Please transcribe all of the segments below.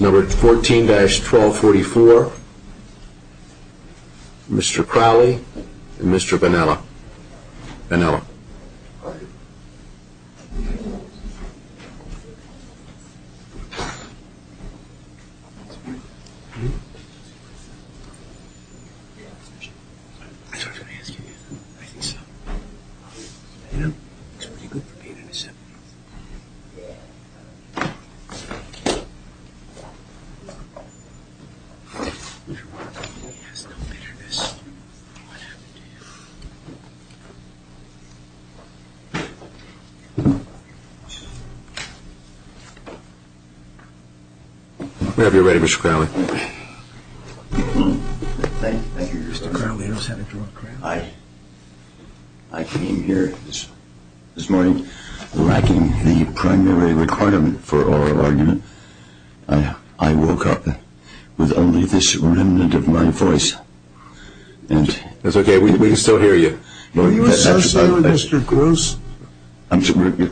Number 14-1244, Mr. Crowley and Mr. Vanella. Vanella. We have you ready, Mr. Crowley. Thank you, Mr. Crowley. I came here this morning lacking the primary requirement for oral argument. I woke up with only this remnant of my voice. That's okay. We can still hear you. Are you associated with Mr. Gross? He selected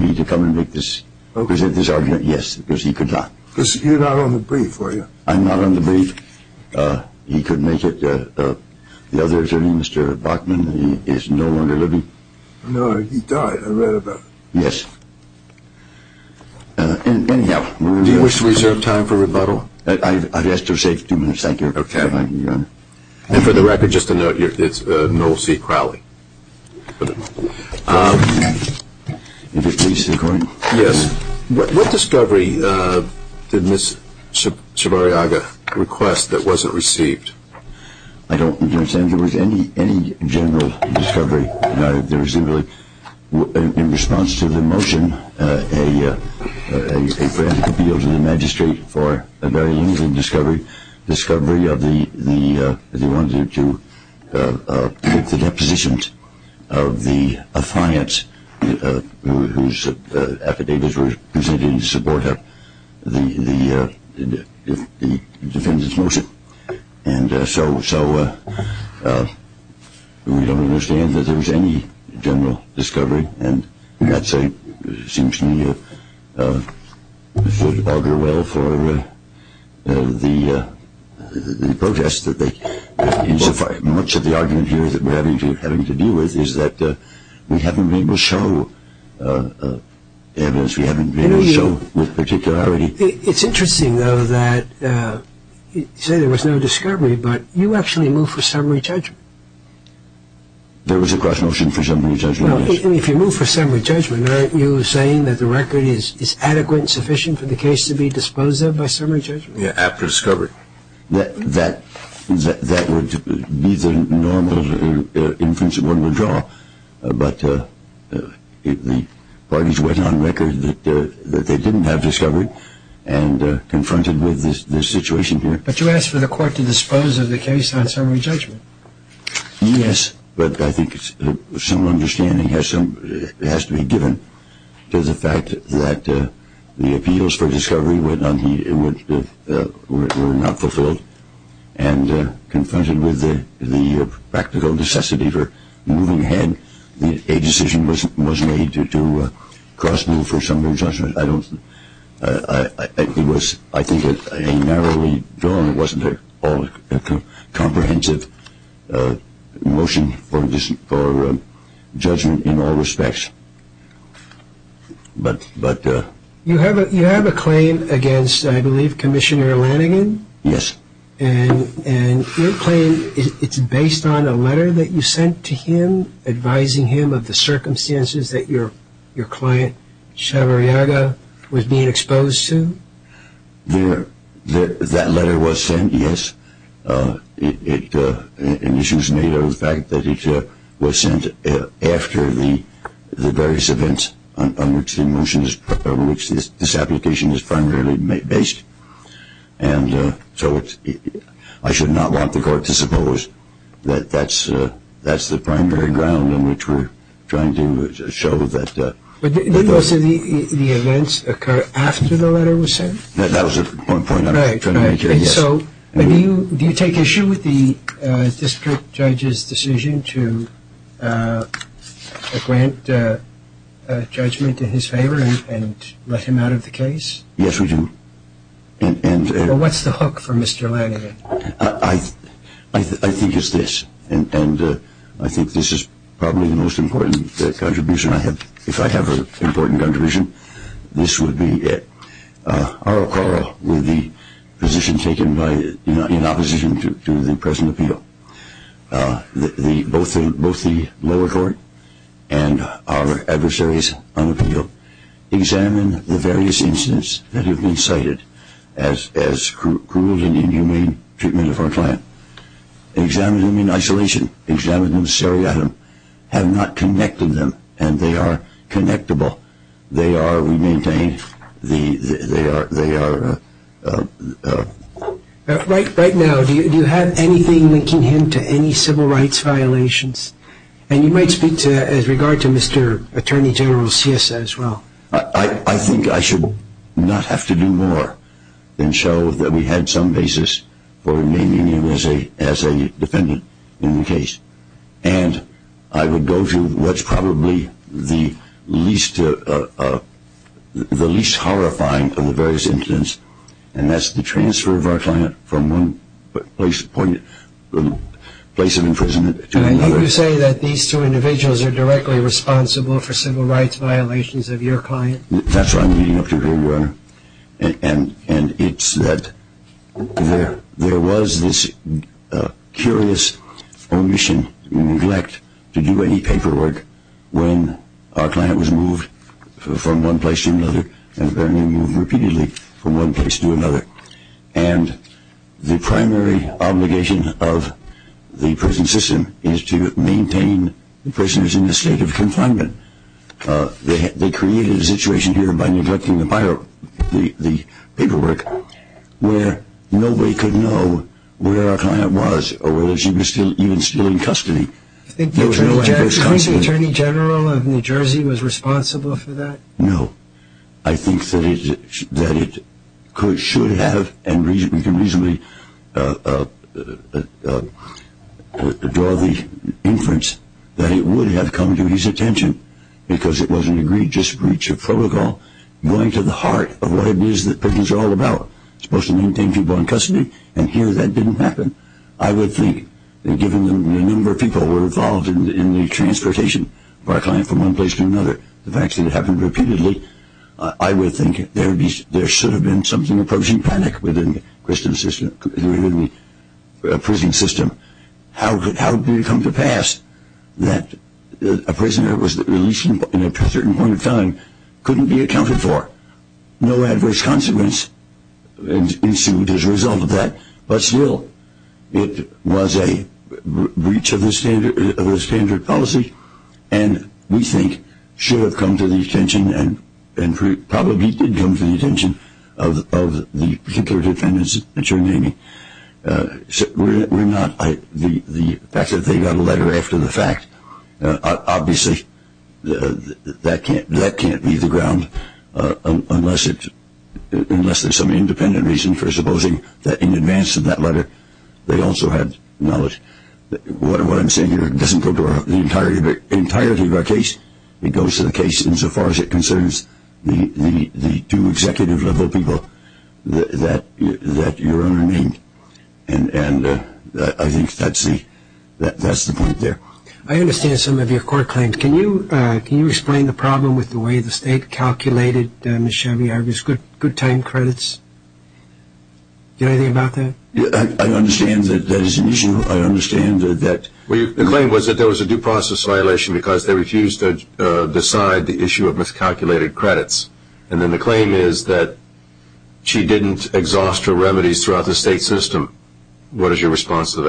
me to come and present this argument, yes, because he could not. Because you're not on the brief, are you? I'm not on the brief. He could make it. The other attorney, Mr. Bachman, is no longer living. No, he died. I read about it. Yes. Do you wish to reserve time for rebuttal? No. I've asked to reserve two minutes. Thank you. And for the record, just a note, it's Noel C. Crowley. What discovery did Ms. Chavarriaga request that wasn't received? I don't understand if there was any general discovery. In response to the motion, a grant could be owed to the magistrate for a very limited discovery of the ones who took the depositions of the clients whose affidavits were presented in support of the defendant's motion. And so we don't understand that there was any general discovery. And that seems to me to augur well for the protest. Much of the argument here that we're having to deal with is that we haven't been able to show evidence. We haven't been able to show with particularity. It's interesting, though, that you say there was no discovery, but you actually moved for summary judgment. There was a cross-motion for summary judgment. If you move for summary judgment, aren't you saying that the record is adequate and sufficient for the case to be disposed of by summary judgment? Yeah, after discovery. That would be the normal inference one would draw. But the parties went on record that they didn't have discovery and confronted with this situation here. But you asked for the court to dispose of the case on summary judgment. Yes, but I think some understanding has to be given to the fact that the appeals for discovery were not fulfilled and confronted with the practical necessity for moving ahead, a decision was made to cross-move for summary judgment. It was, I think, a narrowly drawn, wasn't it, comprehensive motion for judgment in all respects. You have a claim against, I believe, Commissioner Lanigan? Yes. And your claim, it's based on a letter that you sent to him, advising him of the circumstances that your client, Chavarriaga, was being exposed to? That letter was sent, yes. And this was made out of the fact that it was sent after the various events on which this application is primarily based. And so I should not want the court to suppose that that's the primary ground on which we're trying to show that. But did most of the events occur after the letter was sent? That was the point I was trying to make here, yes. Right, right. And so do you take issue with the district judge's decision to grant judgment in his favor and let him out of the case? Yes, we do. Well, what's the hook for Mr. Lanigan? I think it's this, and I think this is probably the most important contribution I have. If I have an important contribution, this would be it. Our call with the position taken in opposition to the present appeal, both the lower court and our adversaries on appeal, examine the various incidents that have been cited as cruel and inhumane treatment of our client. Examine them in isolation. Examine them seriatim. Have not connected them, and they are connectable. They are, we maintain, they are. Right now, do you have anything linking him to any civil rights violations? And you might speak as regard to Mr. Attorney General's CSA as well. I think I should not have to do more than show that we had some basis for naming him as a defendant in the case. And I would go to what's probably the least horrifying of the various incidents, and that's the transfer of our client from one place of imprisonment to another. Do you say that these two individuals are directly responsible for civil rights violations of your client? That's what I'm leading up to here, Your Honor. And it's that there was this curious omission and neglect to do any paperwork when our client was moved from one place to another and apparently moved repeatedly from one place to another. And the primary obligation of the prison system is to maintain the prisoners in a state of confinement. They created a situation here by neglecting the paperwork where nobody could know where our client was or whether she was even still in custody. Do you think the Attorney General of New Jersey was responsible for that? No. I think that it should have and we can reasonably draw the inference that it would have come to his attention because it was an egregious breach of protocol going to the heart of what it is that prisons are all about. It's supposed to maintain people in custody, and here that didn't happen. I would think that given the number of people who were involved in the transportation of our client from one place to another, the fact that it happened repeatedly, I would think there should have been something approaching panic within the prison system. How could it come to pass that a prisoner that was released in a certain point of time couldn't be accounted for? No adverse consequence ensued as a result of that, but still, it was a breach of the standard policy and we think should have come to the attention and probably did come to the attention of the particular defendants that you're naming. The fact that they got a letter after the fact, obviously that can't leave the ground unless there's some independent reason for supposing that in advance of that letter they also had knowledge. What I'm saying here doesn't go to the entirety of our case. It goes to the case insofar as it concerns the two executive-level people that your Honor named, and I think that's the point there. I understand some of your court claims. Can you explain the problem with the way the State calculated Ms. Shelby Ivers' good time credits? Do you know anything about that? I understand that that is an issue. I understand that. The claim was that there was a due process violation because they refused to decide the issue of miscalculated credits, and then the claim is that she didn't exhaust her remedies throughout the State system. What is your response to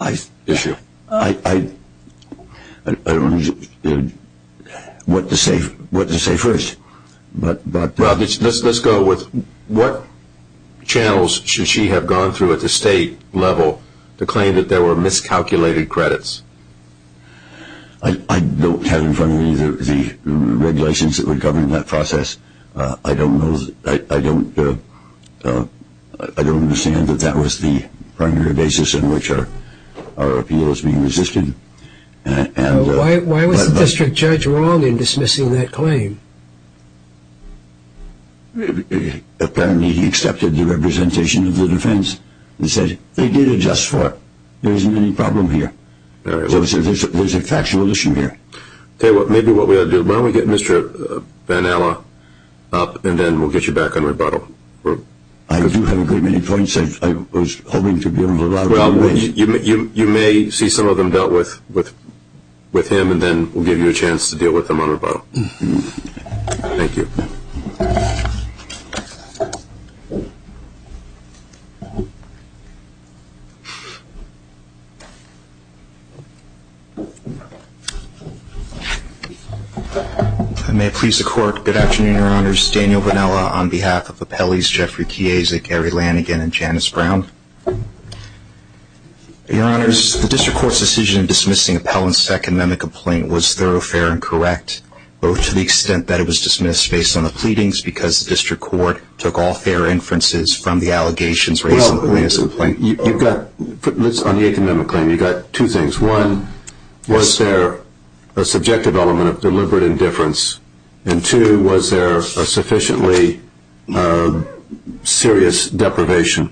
that issue? I don't know what to say first. Let's go with what channels should she have gone through at the State level to claim that there were miscalculated credits? I don't have in front of me the red license that would govern that process. I don't understand that that was the primary basis on which our appeal is being resisted. Why was the district judge wrong in dismissing that claim? Apparently he accepted the representation of the defense and said they did it just for it. There isn't any problem here. There's a factual issue here. Maybe what we ought to do, why don't we get Mr. Van Alla up, and then we'll get you back on rebuttal. I do have a great many points. I was hoping to be on rebuttal. Well, you may see some of them dealt with with him, and then we'll give you a chance to deal with them on rebuttal. Thank you. I may please the court. Good afternoon, Your Honors. Daniel Van Alla on behalf of appellees Jeffrey Kiezik, Gary Lanigan, and Janice Brown. Your Honors, the district court's decision in dismissing appellant's second amendment complaint was thorough, fair, and correct to the extent that it was dismissed based on the pleadings because the district court took all fair inferences from the allegations raised in the plaintiff's complaint. On the eighth amendment claim, you've got two things. One, was there a subjective element of deliberate indifference, and two, was there a sufficiently serious deprivation?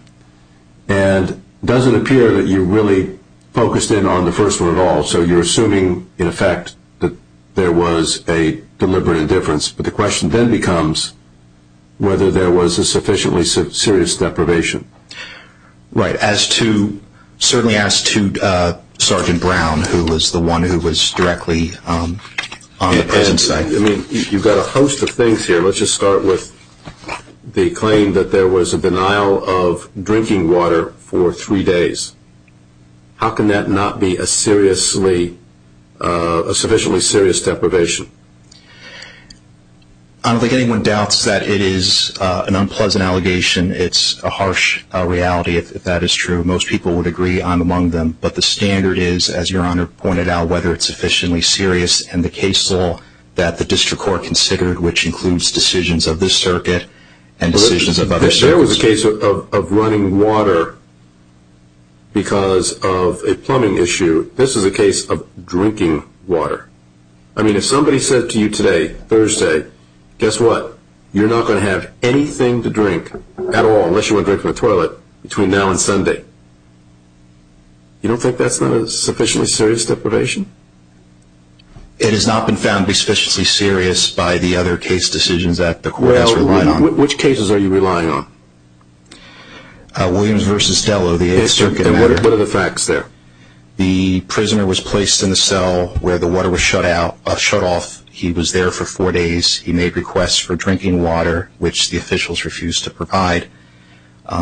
It doesn't appear that you really focused in on the first one at all, so you're assuming, in effect, that there was a deliberate indifference, but the question then becomes whether there was a sufficiently serious deprivation. Right. Certainly as to Sergeant Brown, who was the one who was directly on the present side. You've got a host of things here. Let's just start with the claim that there was a denial of drinking water for three days. How can that not be a sufficiently serious deprivation? I don't think anyone doubts that it is an unpleasant allegation. It's a harsh reality, if that is true. Most people would agree I'm among them, but the standard is, as Your Honor pointed out, whether it's sufficiently serious in the case law that the district court considered, If there was a case of running water because of a plumbing issue, this is a case of drinking water. I mean, if somebody said to you today, Thursday, guess what, you're not going to have anything to drink at all, unless you want to drink from the toilet, between now and Sunday. You don't think that's not a sufficiently serious deprivation? It has not been found to be sufficiently serious by the other case decisions that the court has relied on. Which cases are you relying on? Williams v. Stello, the Eighth Circuit. What are the facts there? The prisoner was placed in the cell where the water was shut off. He was there for four days. He made requests for drinking water, which the officials refused to provide.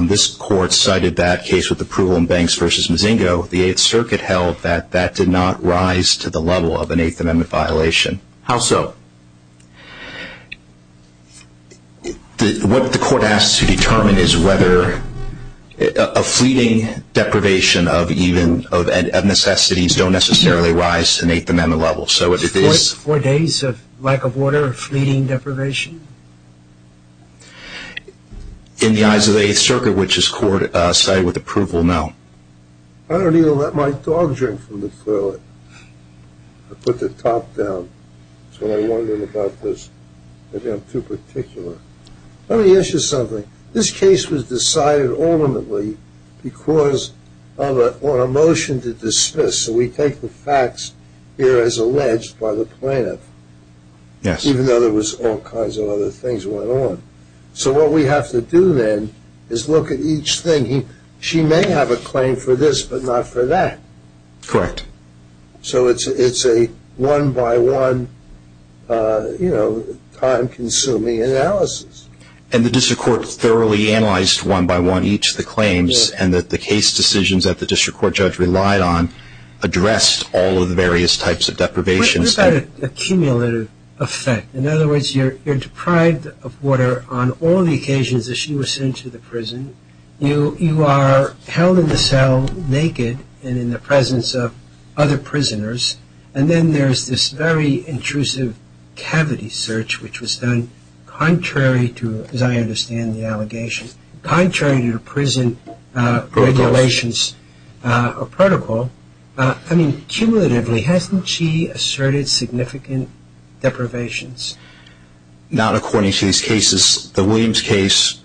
This court cited that case with the approval in Banks v. Mozingo. The Eighth Circuit held that that did not rise to the level of an Eighth Amendment violation. How so? What the court has to determine is whether a fleeting deprivation of necessities don't necessarily rise to an Eighth Amendment level. Four days of lack of water, fleeting deprivation? In the eyes of the Eighth Circuit, which this court cited with approval, no. I put the top down. That's what I wondered about this. Maybe I'm too particular. Let me ask you something. This case was decided ultimately because of a motion to dismiss. So we take the facts here as alleged by the plaintiff, even though there was all kinds of other things that went on. So what we have to do then is look at each thing. She may have a claim for this, but not for that. Correct. So it's a one-by-one, you know, time-consuming analysis. And the district court thoroughly analyzed one-by-one each of the claims and that the case decisions that the district court judge relied on addressed all of the various types of deprivations. What about a cumulative effect? In other words, you're deprived of water on all the occasions that she was sent to the prison. You are held in the cell naked and in the presence of other prisoners. And then there's this very intrusive cavity search, which was done contrary to, as I understand the allegation, contrary to prison regulations or protocol. I mean, cumulatively, hasn't she asserted significant deprivations? Not according to these cases. The Williams case,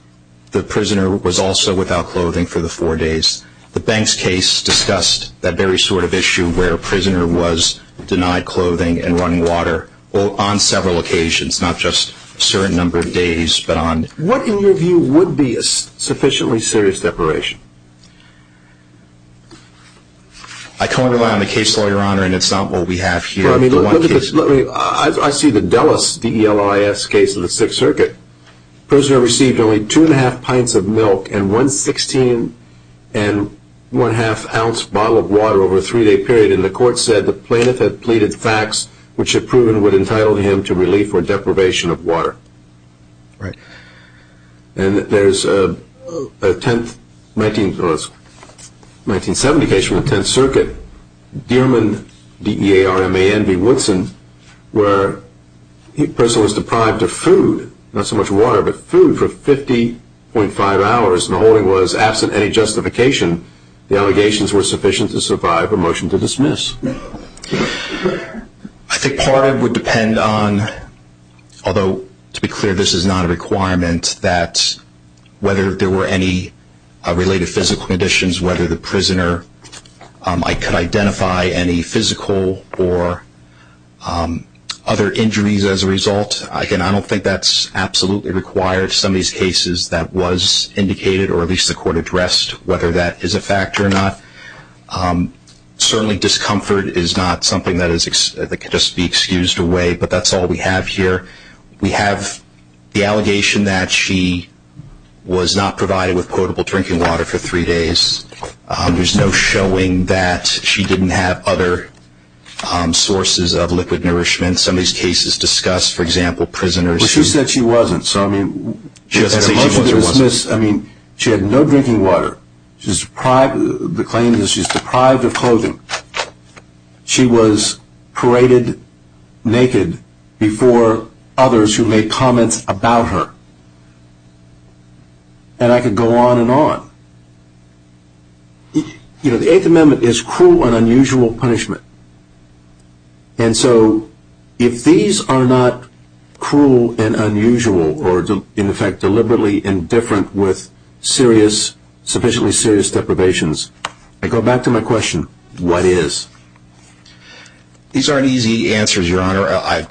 the prisoner was also without clothing for the four days. The Banks case discussed that very sort of issue where a prisoner was denied clothing and running water on several occasions, not just a certain number of days, but on. What, in your view, would be a sufficiently serious deprivation? I can't rely on the case law, Your Honor, and it's not what we have here. I see the Delis, D-E-L-I-S, case of the Sixth Circuit. The prisoner received only two-and-a-half pints of milk and one sixteen-and-one-half-ounce bottle of water over a three-day period. And the court said the plaintiff had pleaded facts which had proven what entitled him to relief or deprivation of water. Right. And there's a 1970 case from the Tenth Circuit. Dierman, D-E-A-R-M-A-N, v. Woodson, where the prisoner was deprived of food, not so much water, but food for 50.5 hours, and the holding was absent any justification. The allegations were sufficient to survive a motion to dismiss. I think part of it would depend on, although to be clear, this is not a requirement, that whether there were any related physical conditions, whether the prisoner could identify any physical or other injuries as a result. Again, I don't think that's absolutely required. Some of these cases that was indicated, or at least the court addressed, whether that is a fact or not. Certainly discomfort is not something that can just be excused away, but that's all we have here. We have the allegation that she was not provided with potable drinking water for three days. There's no showing that she didn't have other sources of liquid nourishment. Some of these cases discuss, for example, prisoners who- But she said she wasn't, so I mean- She doesn't say she was or wasn't. She had no drinking water. The claim is she's deprived of clothing. She was paraded naked before others who made comments about her. And I could go on and on. The Eighth Amendment is cruel and unusual punishment, and so if these are not cruel and unusual, or in effect deliberately indifferent with sufficiently serious deprivations, I go back to my question, what is? These aren't easy answers, Your Honor,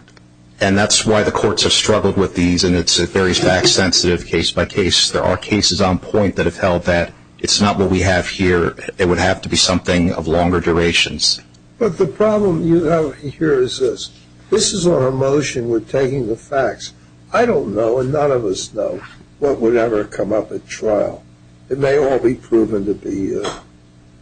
and that's why the courts have struggled with these, and it's a very fact-sensitive case by case. There are cases on point that have held that it's not what we have here. It would have to be something of longer durations. But the problem you have here is this. This is our motion. We're taking the facts. I don't know, and none of us know, what would ever come up at trial. It may all be proven to be, you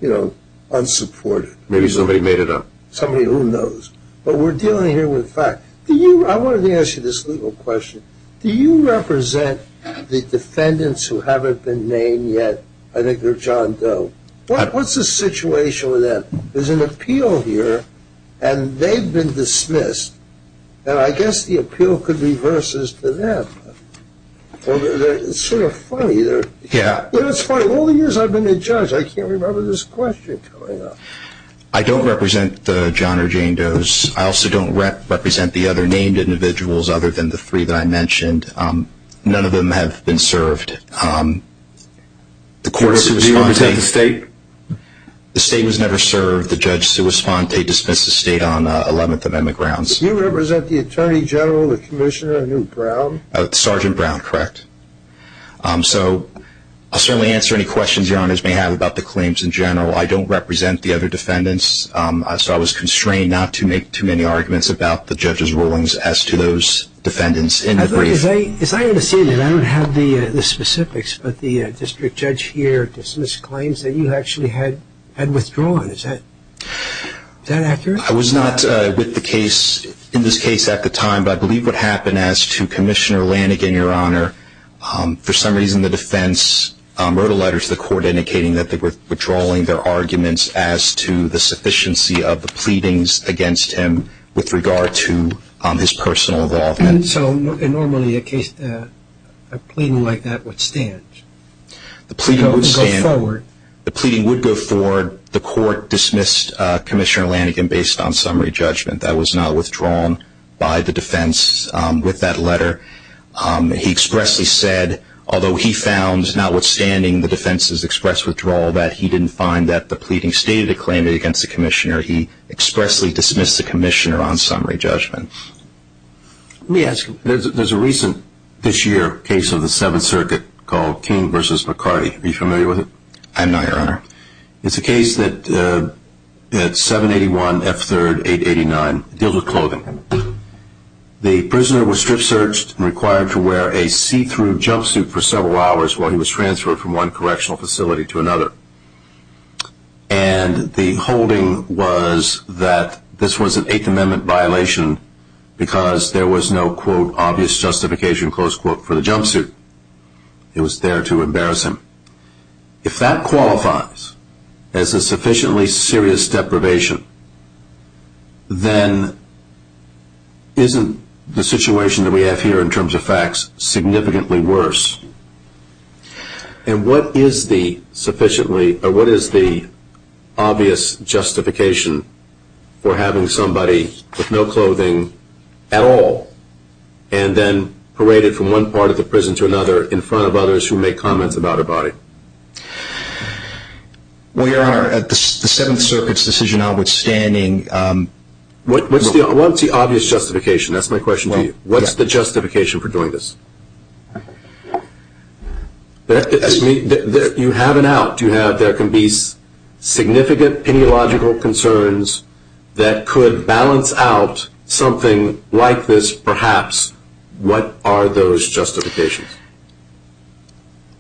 know, unsupported. Maybe somebody made it up. Somebody who knows. But we're dealing here with facts. I wanted to ask you this legal question. Do you represent the defendants who haven't been named yet? I think they're John Doe. What's the situation with that? There's an appeal here, and they've been dismissed, and I guess the appeal could be versus to them. It's sort of funny. Yeah. It's funny. All the years I've been a judge, I can't remember this question coming up. I don't represent John or Jane Doe's. I also don't represent the other named individuals other than the three that I mentioned. None of them have been served. Do you represent the state? The state was never served. The judge, Sue Esponte, dismissed the state on 11th Amendment grounds. Do you represent the Attorney General, the Commissioner, a new Brown? Sergeant Brown, correct. So I'll certainly answer any questions Your Honors may have about the claims in general. I don't represent the other defendants, so I was constrained not to make too many arguments about the judge's rulings as to those defendants. As I understand it, I don't have the specifics, but the district judge here dismissed claims that you actually had withdrawn. Is that accurate? I was not with the case in this case at the time, but I believe what happened as to Commissioner Lanigan, Your Honor, for some reason the defense wrote a letter to the court indicating that they were withdrawing their arguments as to the sufficiency of the pleadings against him with regard to his personal involvement. So normally a case, a pleading like that would stand? The pleading would stand. It would go forward. The pleading would go forward. The court dismissed Commissioner Lanigan based on summary judgment. That was not withdrawn by the defense with that letter. He expressly said, although he found, notwithstanding the defense's express withdrawal, that he didn't find that the pleading stated a claim against the commissioner, he expressly dismissed the commissioner on summary judgment. Let me ask you, there's a recent, this year, case of the Seventh Circuit called King v. McCarty. Are you familiar with it? I'm not, Your Honor. It's a case that 781 F. 3rd 889. It deals with clothing. The prisoner was strip searched and required to wear a see-through jumpsuit for several hours while he was transferred from one correctional facility to another. And the holding was that this was an Eighth Amendment violation because there was no, quote, obvious justification, close quote, for the jumpsuit. It was there to embarrass him. If that qualifies as a sufficiently serious deprivation, then isn't the situation that we have here in terms of facts significantly worse? And what is the obvious justification for having somebody with no clothing at all and then paraded from one part of the prison to another in front of others who make comments about a body? Your Honor, the Seventh Circuit's decision notwithstanding. What's the obvious justification? That's my question to you. What's the justification for doing this? You have an out. You have there can be significant ideological concerns that could balance out something like this perhaps. What are those justifications?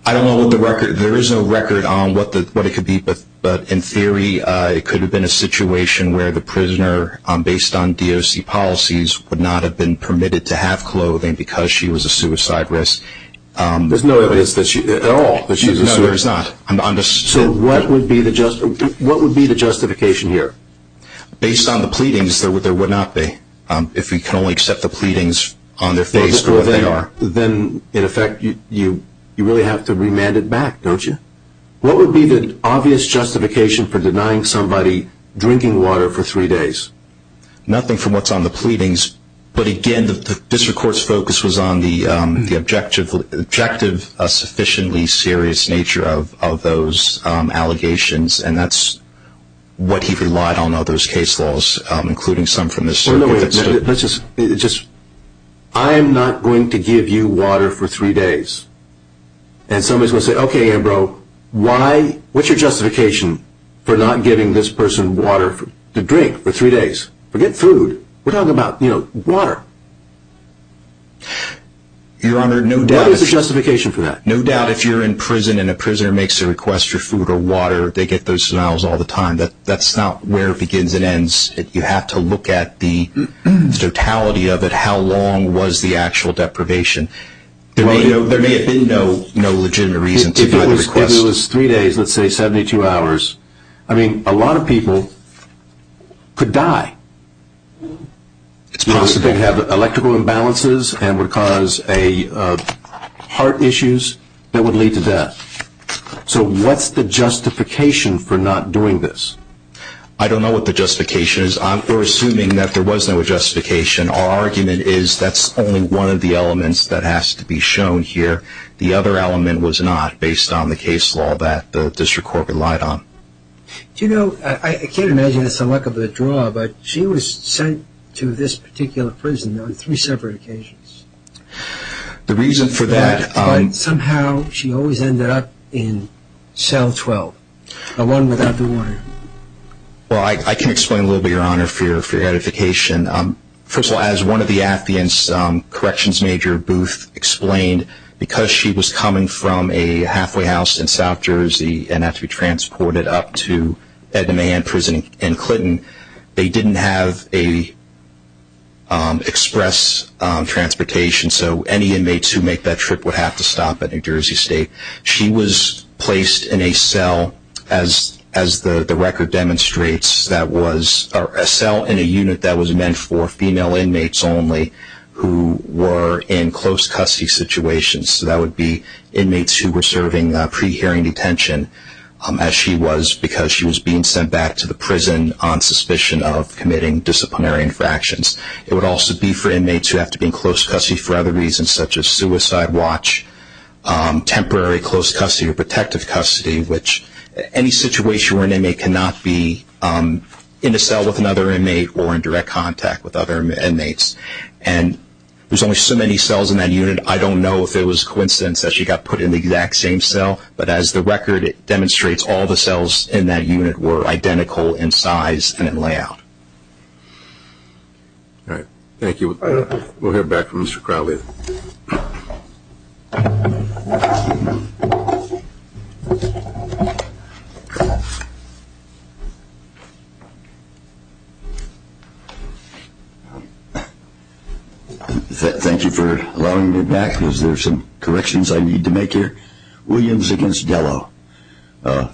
I don't know what the record. There is no record on what it could be. But in theory, it could have been a situation where the prisoner, based on DOC policies, would not have been permitted to have clothing because she was a suicide risk. There's no evidence at all that she was a suicide risk? No, there's not. So what would be the justification here? Based on the pleadings, there would not be. If we can only accept the pleadings on their face for what they are. Then, in effect, you really have to remand it back, don't you? What would be the obvious justification for denying somebody drinking water for three days? Nothing from what's on the pleadings. But, again, the district court's focus was on the objective sufficiently serious nature of those allegations. And that's what he relied on in all those case laws, including some from this circuit. I am not going to give you water for three days. And somebody is going to say, okay, Ambrose, what's your justification for not giving this person water to drink for three days? Forget food. We're talking about water. Your Honor, no doubt if you're in prison and a prisoner makes a request for food or water, they get those denials all the time. That's not where it begins and ends. You have to look at the totality of it, how long was the actual deprivation. There may have been no legitimate reason to make the request. If it was three days, let's say 72 hours, I mean, a lot of people could die. It's possible. They'd have electrical imbalances and would cause heart issues that would lead to death. So what's the justification for not doing this? I don't know what the justification is. We're assuming that there was no justification. Our argument is that's only one of the elements that has to be shown here. The other element was not based on the case law that the district court relied on. Do you know, I can't imagine it's the luck of the draw, but she was sent to this particular prison on three separate occasions. The reason for that. But somehow she always ended up in cell 12, the one without the water. Well, I can explain a little bit, Your Honor, for your edification. First of all, as one of the Atheist corrections major, Booth, explained, because she was coming from a halfway house in South Jersey and had to be transported up to Edna Mahan Prison in Clinton, they didn't have express transportation, so any inmates who make that trip would have to stop at New Jersey State. She was placed in a cell, as the record demonstrates, or a cell in a unit that was meant for female inmates only who were in close custody situations. So that would be inmates who were serving pre-hearing detention, as she was because she was being sent back to the prison on suspicion of committing disciplinary infractions. It would also be for inmates who have to be in close custody for other reasons, such as suicide watch, temporary close custody or protective custody, which any situation where an inmate cannot be in a cell with another inmate or in direct contact with other inmates. And there's only so many cells in that unit. I don't know if it was a coincidence that she got put in the exact same cell, but as the record demonstrates, all the cells in that unit were identical in size and in layout. All right. Thank you. We'll hear back from Mr. Crowley. Thank you for allowing me to be back. There's some corrections I need to make here. Williams against Gallo.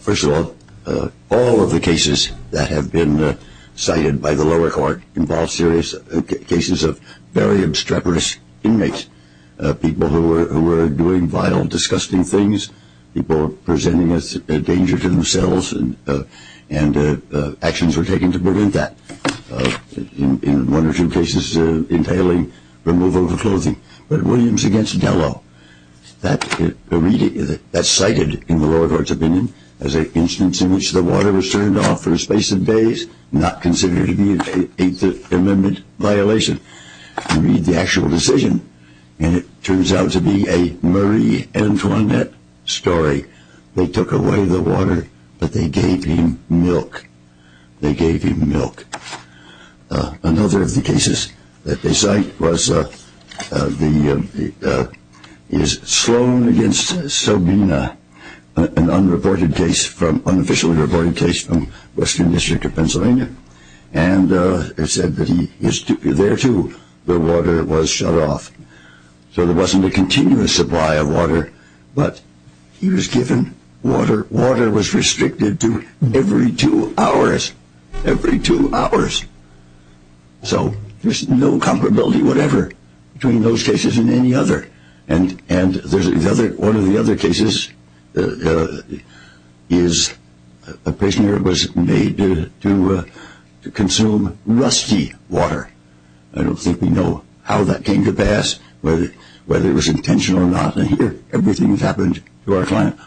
First of all, all of the cases that have been cited by the lower court involve serious cases of very obstreperous inmates, people who were doing vile, disgusting things, people presenting a danger to themselves, and actions were taken to prevent that, in one or two cases entailing removal of clothing. But Williams against Gallo, that's cited in the lower court's opinion as an instance in which the water was turned off for a space of days, not considered to be an Eighth Amendment violation. You read the actual decision, and it turns out to be a Marie Antoinette story. They took away the water, but they gave him milk. They gave him milk. Another of the cases that they cite is Sloan against Sobina, an unofficially reported case from Western District of Pennsylvania, and it's said that he is there, too, where water was shut off. So there wasn't a continuous supply of water, but he was given water. Water was restricted to every two hours, every two hours. So there's no comparability whatever between those cases and any other. And one of the other cases is a prisoner was made to consume rusty water. I don't think we know how that came to pass, whether it was intentional or not. Here, everything that's happened to our client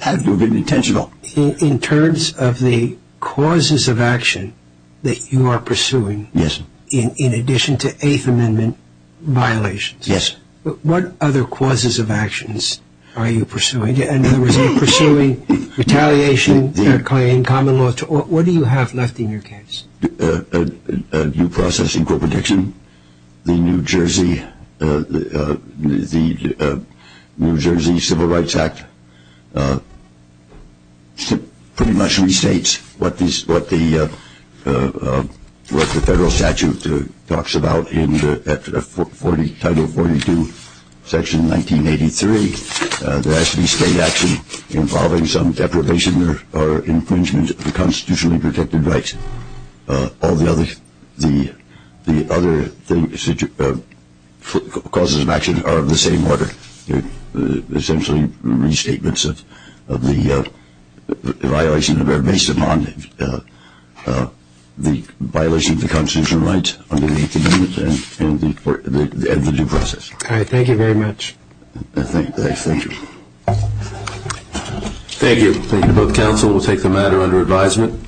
had to have been intentional. In terms of the causes of action that you are pursuing in addition to Eighth Amendment violations, what other causes of actions are you pursuing? In other words, are you pursuing retaliation, fair claim, common law? What do you have left in your case? Do you process equal protection? The New Jersey Civil Rights Act pretty much restates what the federal statute talks about in Title 42, Section 1983. There has to be state action involving some deprivation or infringement of the constitutionally protected rights. All the other causes of action are of the same order. They're essentially restatements of the violation of or based upon the violation of the constitutional rights under the Eighth Amendment and the due process. All right. Thank you very much. Thank you. Thank you. Thank you to both counsel. We'll take the matter under advisement.